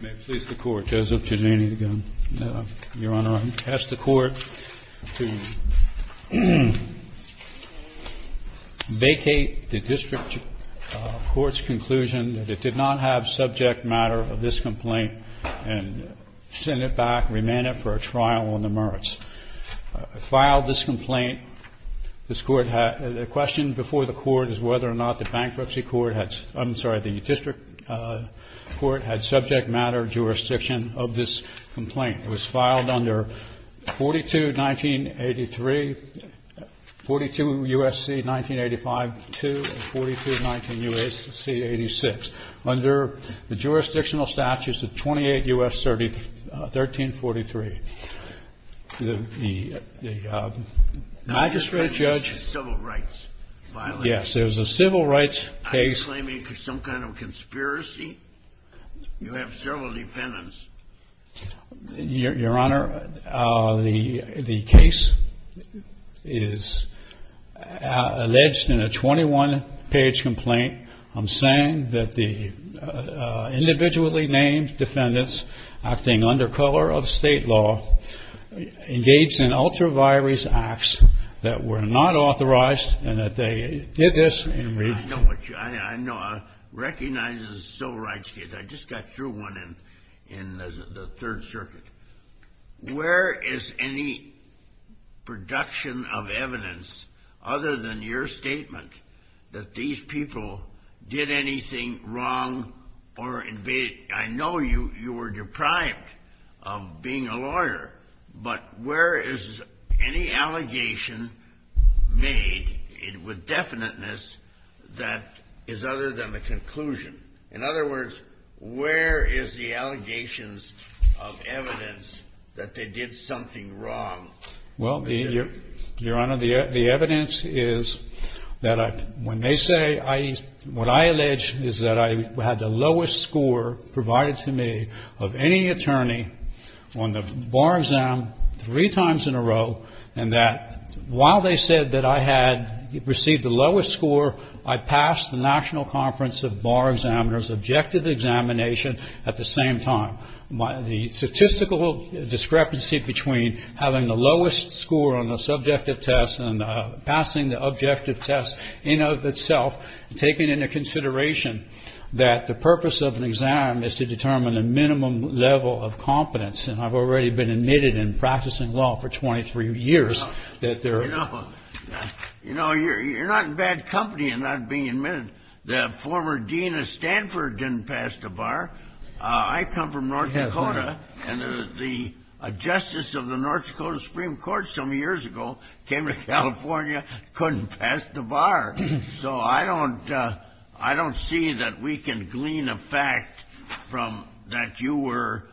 May it please the Court, Joseph Giannini, your Honor. I ask the Court to vacate the District Court's conclusion that it did not have subject matter of this complaint and send it back, remand it for a trial on the merits. I filed this complaint. The question before the Court is whether or not the District Court had subject matter jurisdiction of this complaint. It was filed under 42 U.S.C. 1983, 42 U.S.C. 1985-2, and 42 U.S.C. 1986 under the jurisdictional statutes of 28 U.S. 1343. Your Honor, the case is alleged in a 21-page complaint. I'm saying that the individually named defendants, acting under color of state law, engaged in ultra-virus acts that were not authorized and that they did this in regional... I know what you... I know... I recognize the civil rights case. I just got through one in the Third Circuit. Where is any production of evidence other than your statement that these people did anything wrong or... I know you were deprived of being a lawyer, but where is any allegation made with definiteness that is other than the conclusion? In other words, where is the allegations of evidence that they did something wrong? Well, Your Honor, the evidence is that when they say... What I allege is that I had the lowest score provided to me of any attorney on the bar exam three times in a row, and that while they said that I had received the lowest score, I passed the National Conference of Bar Examiners objective examination at the same time. The statistical discrepancy between having the lowest score on the subjective test and passing the objective test in of itself, taking into consideration that the purpose of an exam is to determine a minimum level of competence, and I've already been admitted in practicing law for 23 years that there... You know, you're not in bad company in not being admitted. The former dean of Stanford didn't pass the bar. I come from North Dakota, and the justice of the North Dakota Supreme Court some years ago came to California, couldn't pass the bar. So I don't see that we can glean a fact from that you were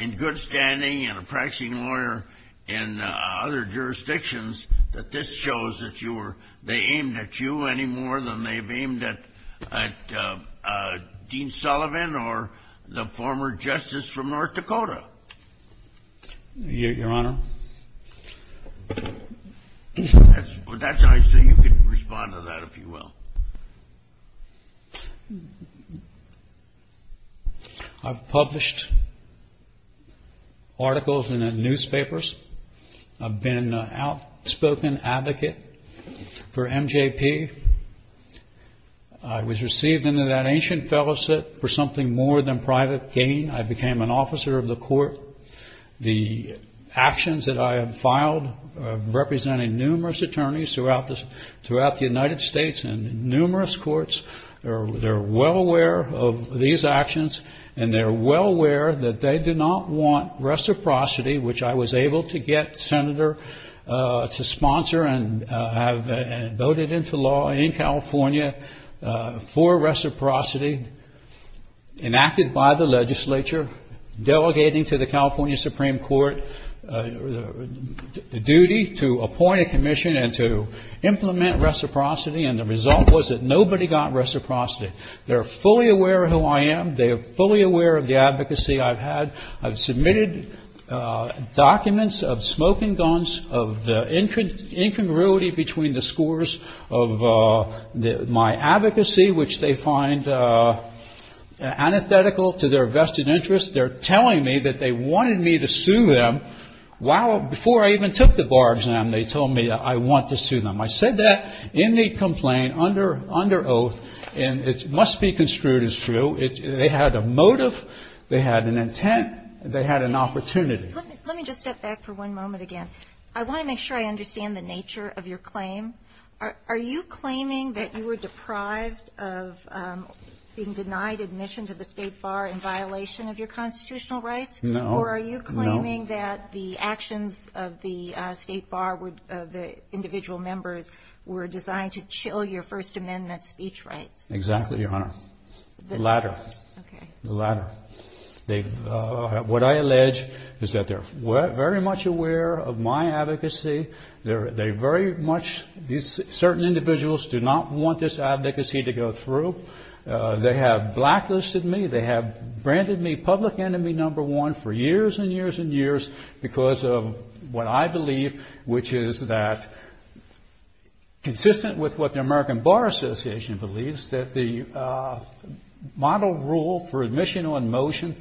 in good standing and a practicing lawyer in other jurisdictions that this shows that they aimed at you any more than they've aimed at Dean Sullivan or the former justice from North Dakota. Your Honor? I see you can respond to that if you will. I've published articles in the newspapers. I've been an outspoken advocate for MJP. I was received under that ancient fellowship for something more than private gain. I became an officer of the court. The actions that I have filed representing numerous attorneys throughout the United States and numerous courts, they're well aware of these actions, and they're well aware that they do not want reciprocity, which I was able to get Senator to sponsor and voted into law in California for reciprocity, enacted by the legislature. Delegating to the California Supreme Court the duty to appoint a commission and to implement reciprocity, and the result was that nobody got reciprocity. They are fully aware of who I am. They are fully aware of the advocacy I've had. I've submitted documents of smoking guns, of the incongruity between the scores of my advocacy, which they find antithetical to their vested interest. They're telling me that they wanted me to sue them. Before I even took the bar exam, they told me I want to sue them. I said that in the complaint under oath, and it must be construed as true. They had a motive. They had an intent. They had an opportunity. Let me just step back for one moment again. I want to make sure I understand the nature of your claim. Are you claiming that you were deprived of being denied admission to the state bar in violation of your constitutional rights? No. Or are you claiming that the actions of the state bar, the individual members, were designed to chill your First Amendment speech rights? Exactly, Your Honor. The latter. The latter. What I allege is that they're very much aware of my advocacy. Certain individuals do not want this advocacy to go through. They have blacklisted me. They have branded me public enemy number one for years and years and years because of what I believe, which is that, consistent with what the American Bar Association believes, that the model rule for admission on motion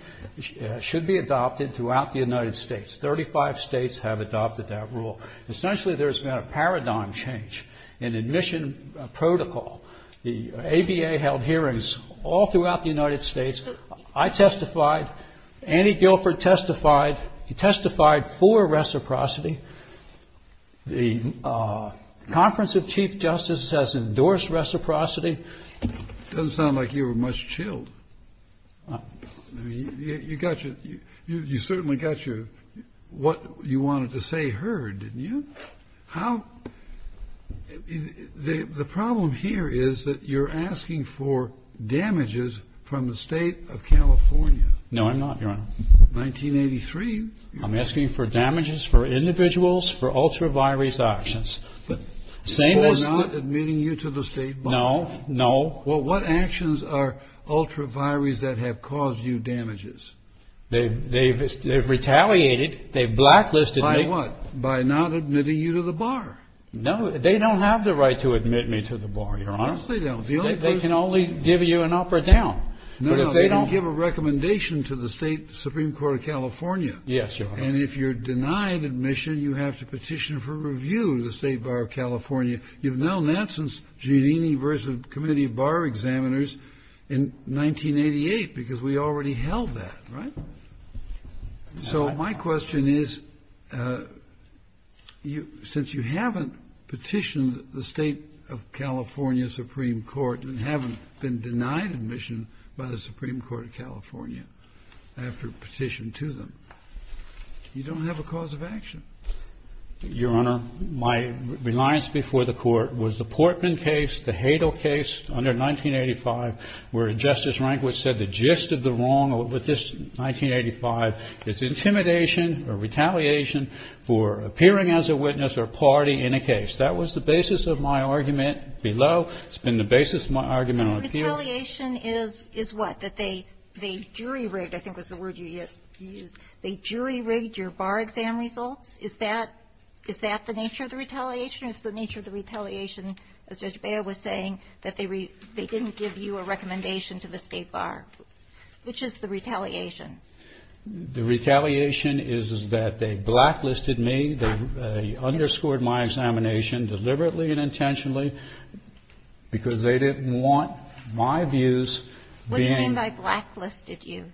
should be adopted throughout the United States. Thirty-five states have adopted that rule. Essentially, there's been a paradigm change in admission protocol. The ABA held hearings all throughout the United States. I testified. Annie Guilford testified. She testified for reciprocity. The Conference of Chief Justices has endorsed reciprocity. It doesn't sound like you were much chilled. You certainly got what you wanted to say heard, didn't you? The problem here is that you're asking for damages from the state of California. No, I'm not, Your Honor. 1983. I'm asking for damages for individuals for ultra-virus actions. For not admitting you to the state bar? No, no. Well, what actions are ultra-virus that have caused you damages? They've retaliated. They've blacklisted me. By what? By not admitting you to the bar? No, they don't have the right to admit me to the bar, Your Honor. Yes, they don't. They can only give you an up or down. No, they can give a recommendation to the state Supreme Court of California. Yes, Your Honor. And if you're denied admission, you have to petition for review to the state bar of California. You've known that since Giannini versus the Committee of Bar Examiners in 1988, because we already held that, right? So my question is, since you haven't petitioned the state of California Supreme Court and haven't been denied admission by the Supreme Court of California after petition to them, you don't have a cause of action. Your Honor, my reliance before the Court was the Portman case, the Hadle case under 1985, where Justice Rehnquist said the gist of the wrong with this 1985, it's intimidation or retaliation for appearing as a witness or party in a case. That was the basis of my argument below. It's been the basis of my argument on appeal. The retaliation is what? That they jury-rigged, I think was the word you used, they jury-rigged your bar exam results? Is that the nature of the retaliation? Or is the nature of the retaliation, as Judge Bea was saying, that they didn't give you a recommendation to the state bar? Which is the retaliation? The retaliation is that they blacklisted me. They underscored my examination deliberately and intentionally because they didn't want my views being ---- What do you mean by blacklisted you?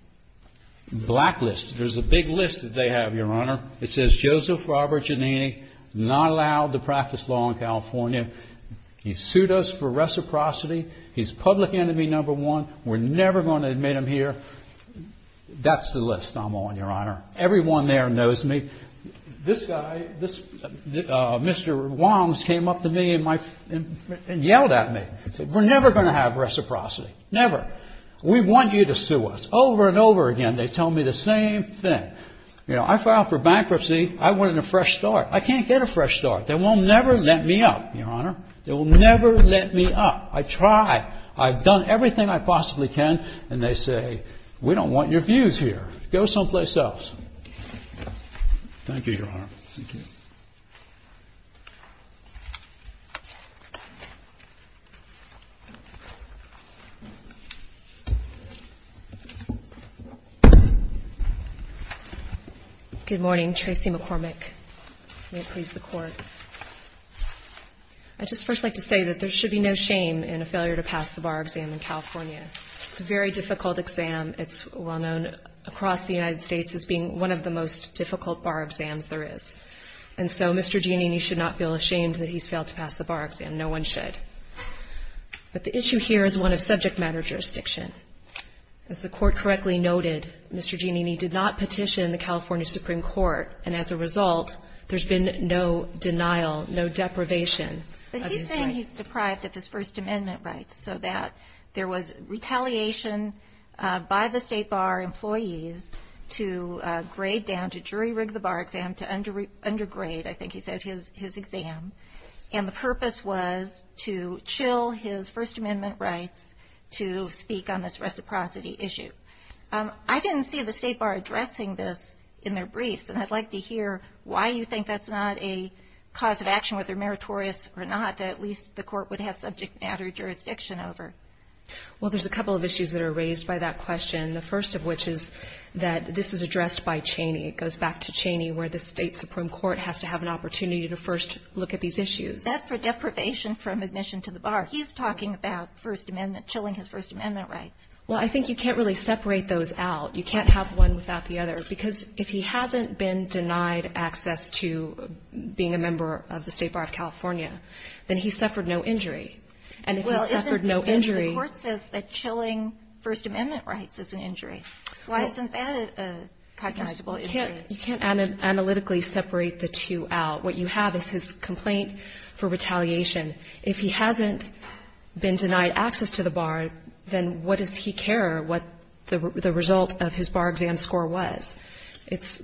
Blacklisted. There's a big list that they have, Your Honor. It says Joseph Robert Giannini not allowed to practice law in California. He sued us for reciprocity. He's public enemy number one. We're never going to admit him here. That's the list I'm on, Your Honor. Everyone there knows me. This guy, Mr. Wongs, came up to me and yelled at me. He said, we're never going to have reciprocity. Never. We want you to sue us. Over and over again, they tell me the same thing. You know, I filed for bankruptcy. I wanted a fresh start. I can't get a fresh start. They will never let me up, Your Honor. They will never let me up. I try. I've done everything I possibly can. And they say, we don't want your views here. Go someplace else. Thank you, Your Honor. Thank you. Good morning. Tracy McCormick. May it please the Court. I'd just first like to say that there should be no shame in a failure to pass the bar exam in California. It's a very difficult exam. It's well-known across the United States as being one of the most difficult bar exams there is. And so Mr. Giannini should not feel ashamed that he's failed to pass the bar exam. No one should. But the issue here is one of subject matter jurisdiction. As the Court correctly noted, Mr. Giannini did not petition the California Supreme Court, and as a result, there's been no denial, no deprivation of his rights. So that there was retaliation by the State Bar employees to grade down, to jury rig the bar exam, to undergrade, I think he said, his exam. And the purpose was to chill his First Amendment rights to speak on this reciprocity issue. I didn't see the State Bar addressing this in their briefs, and I'd like to hear why you think that's not a cause of action, whether meritorious or not, that at least the Court would have subject matter jurisdiction over. Well, there's a couple of issues that are raised by that question, the first of which is that this is addressed by Cheney. It goes back to Cheney, where the State Supreme Court has to have an opportunity to first look at these issues. That's for deprivation from admission to the bar. He's talking about First Amendment, chilling his First Amendment rights. Well, I think you can't really separate those out. You can't have one without the other, Because if he hasn't been denied access to being a member of the State Bar of California, then he suffered no injury. And if he suffered no injury — Well, isn't the court says that chilling First Amendment rights is an injury. Why isn't that a cognizable injury? You can't analytically separate the two out. What you have is his complaint for retaliation. If he hasn't been denied access to the bar, then what does he care what the result of his bar exam score was?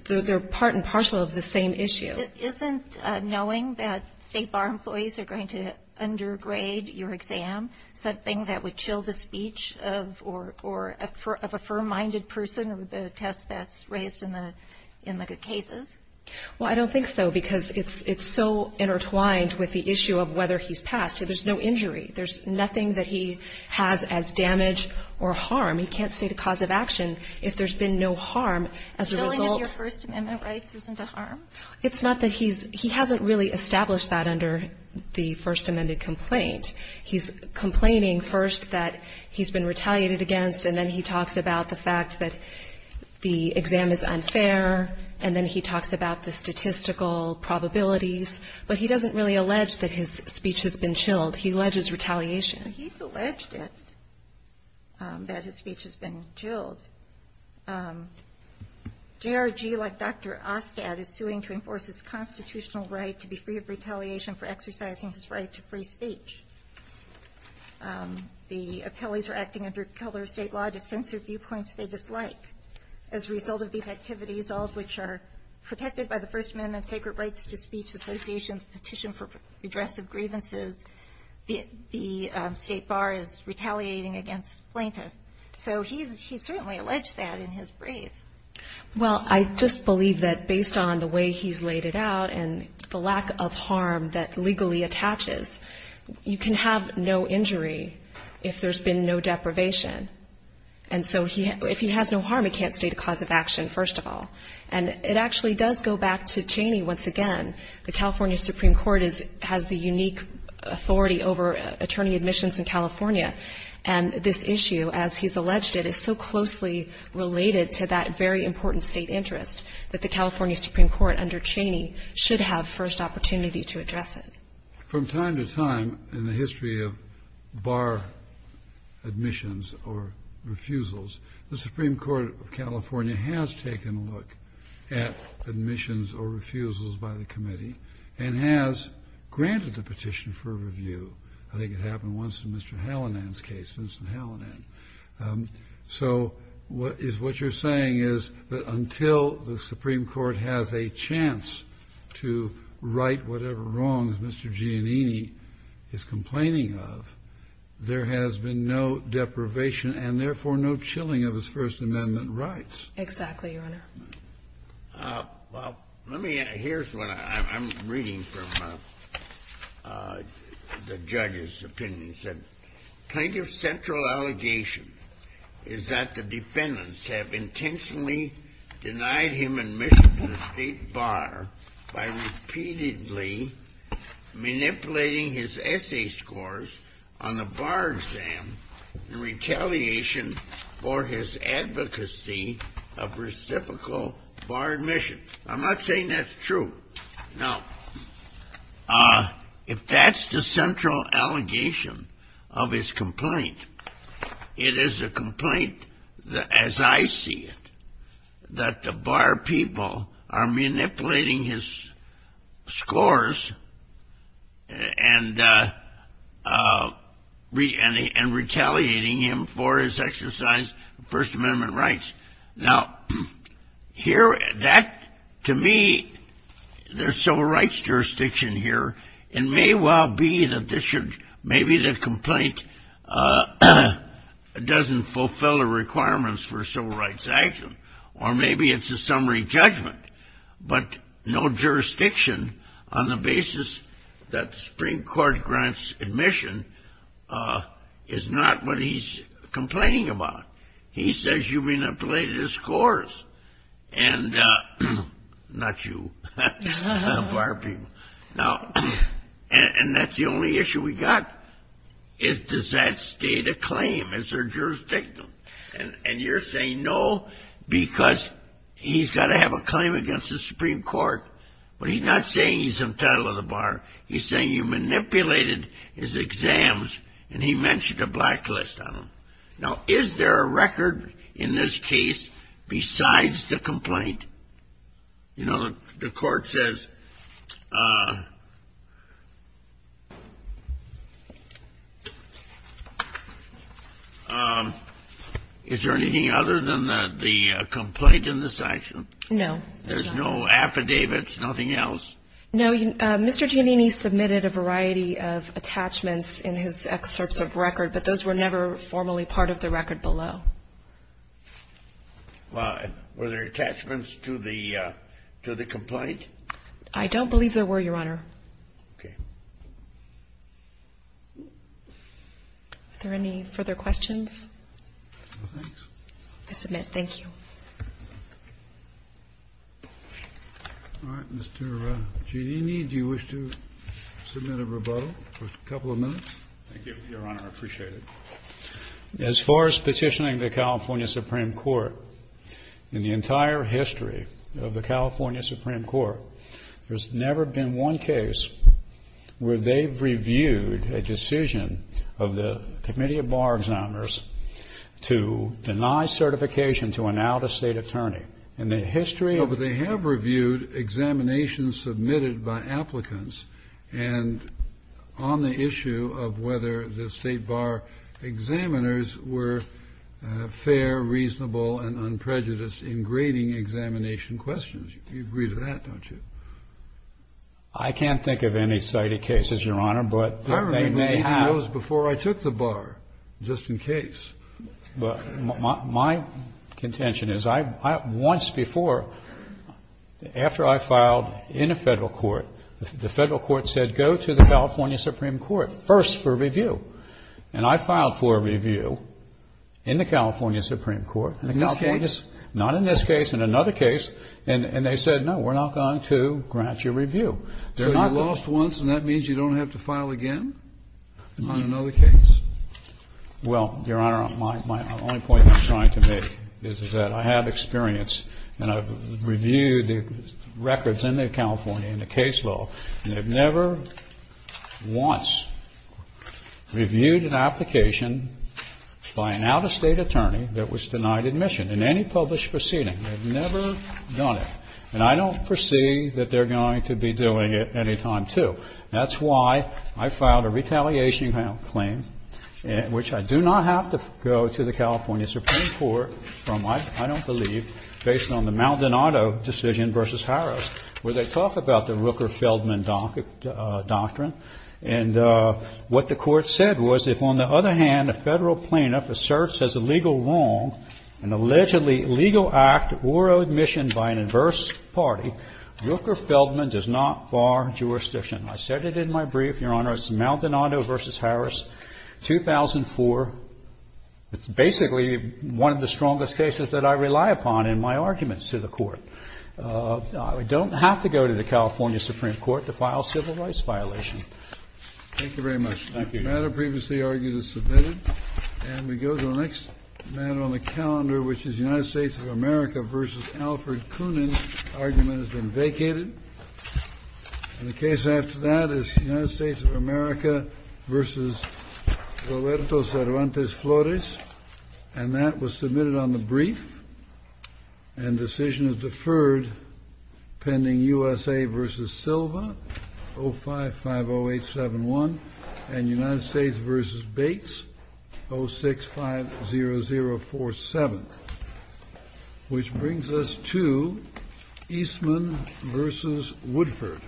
They're part and parcel of the same issue. Isn't knowing that State Bar employees are going to undergrade your exam something that would chill the speech of a firm-minded person or the test that's raised in the good cases? Well, I don't think so, because it's so intertwined with the issue of whether he's passed. There's no injury. There's nothing that he has as damage or harm. He can't state a cause of action if there's been no harm as a result. Chilling of your First Amendment rights isn't a harm? It's not that he's — he hasn't really established that under the First Amendment complaint. He's complaining first that he's been retaliated against, and then he talks about the fact that the exam is unfair, and then he talks about the statistical probabilities. But he doesn't really allege that his speech has been chilled. He alleges retaliation. Well, he's alleged it, that his speech has been chilled. J.R.G., like Dr. Oscad, is suing to enforce his constitutional right to be free of retaliation for exercising his right to free speech. The appellees are acting under color of state law to censor viewpoints they dislike. As a result of these activities, all of which are protected by the First Amendment Sacred Rights to Speech Association's petition for redress of grievances, the State Bar is retaliating against the plaintiff. So he's certainly alleged that in his brief. Well, I just believe that based on the way he's laid it out and the lack of harm that legally attaches, you can have no injury if there's been no deprivation. And so if he has no harm, he can't state a cause of action, first of all. And it actually does go back to Cheney once again. The California Supreme Court has the unique authority over attorney admissions in California. And this issue, as he's alleged it, is so closely related to that very important state interest that the California Supreme Court under Cheney should have first opportunity to address it. From time to time in the history of bar admissions or refusals, the Supreme Court of California has taken a look at admissions or refusals by the committee and has granted the petition for review. I think it happened once in Mr. Hallinan's case, Vincent Hallinan. So what you're saying is that until the Supreme Court has a chance to right whatever wrongs Mr. Giannini is complaining of, there has been no deprivation and, therefore, no chilling of his First Amendment rights. Exactly, Your Honor. Well, let me add. Here's what I'm reading from the judge's opinion. It said, Plaintiff's central allegation is that the defendants have intentionally denied him admission to the State Bar by repeatedly manipulating his essay scores on the bar exam in retaliation for his advocacy of reciprocal bar admission. I'm not saying that's true. Now, if that's the central allegation of his complaint, it is a complaint, as I see it, that the bar people are manipulating his scores and retaliating him for his exercise of First Amendment rights. Now, to me, there's civil rights jurisdiction here. It may well be that maybe the complaint doesn't fulfill the requirements for civil rights action or maybe it's a summary judgment, but no jurisdiction on the basis that the Supreme Court grants admission is not what he's complaining about. He says you manipulated his scores and not you, bar people. Now, and that's the only issue we got is does that state a claim? Is there jurisdiction? And you're saying no because he's got to have a claim against the Supreme Court, but he's not saying he's entitled to the bar. He's saying you manipulated his exams and he mentioned a blacklist on them. Now, is there a record in this case besides the complaint? You know, the court says is there anything other than the complaint in this action? No. There's no affidavits, nothing else? No. Mr. Giannini submitted a variety of attachments in his excerpts of record, but those were never formally part of the record below. Well, were there attachments to the complaint? I don't believe there were, Your Honor. Okay. Are there any further questions? No, thanks. I submit. Thank you. All right. Mr. Giannini, do you wish to submit a rebuttal for a couple of minutes? Thank you, Your Honor. I appreciate it. As far as petitioning the California Supreme Court, in the entire history of the California Supreme Court, there's never been one case where they've reviewed a decision of the committee of bar examiners to deny certification to an out-of-state attorney. In the history of the court, they have reviewed examinations submitted by applicants and on the issue of whether the state bar examiners were fair, reasonable, and unprejudiced in grading examination questions. You agree to that, don't you? I can't think of any cited cases, Your Honor, but they may have. I remember even those before I took the bar, just in case. My contention is I once before, after I filed in a federal court, the federal court said go to the California Supreme Court first for review. And I filed for review in the California Supreme Court. In this case? Not in this case. In another case. And they said, no, we're not going to grant you review. So you lost once and that means you don't have to file again on another case? Well, Your Honor, my only point I'm trying to make is that I have experience and I've reviewed the records in the California, in the case law, and they've never once reviewed an application by an out-of-state attorney that was denied admission in any published proceeding. They've never done it. And I don't foresee that they're going to be doing it any time, too. That's why I filed a retaliation claim, which I do not have to go to the California Supreme Court from, I don't believe, based on the Maldonado decision versus Harris, where they talk about the Rooker-Feldman doctrine. And what the court said was if, on the other hand, a federal plaintiff asserts as a legal wrong an allegedly illegal act or admission by an adverse party, Rooker-Feldman does not bar jurisdiction. I said it in my brief, Your Honor, it's Maldonado versus Harris, 2004. It's basically one of the strongest cases that I rely upon in my arguments to the court. I don't have to go to the California Supreme Court to file civil rights violations. Thank you very much. Thank you. The matter previously argued is submitted. And we go to the next matter on the calendar, which is the United States of America versus Alfred Koonin argument has been vacated. And the case after that is the United States of America versus Roberto Cervantes Flores. And that was submitted on the brief. And decision is deferred pending USA versus Silva, 0550871, and United States versus Bates, 0650047. Which brings us to Eastman versus Woodford.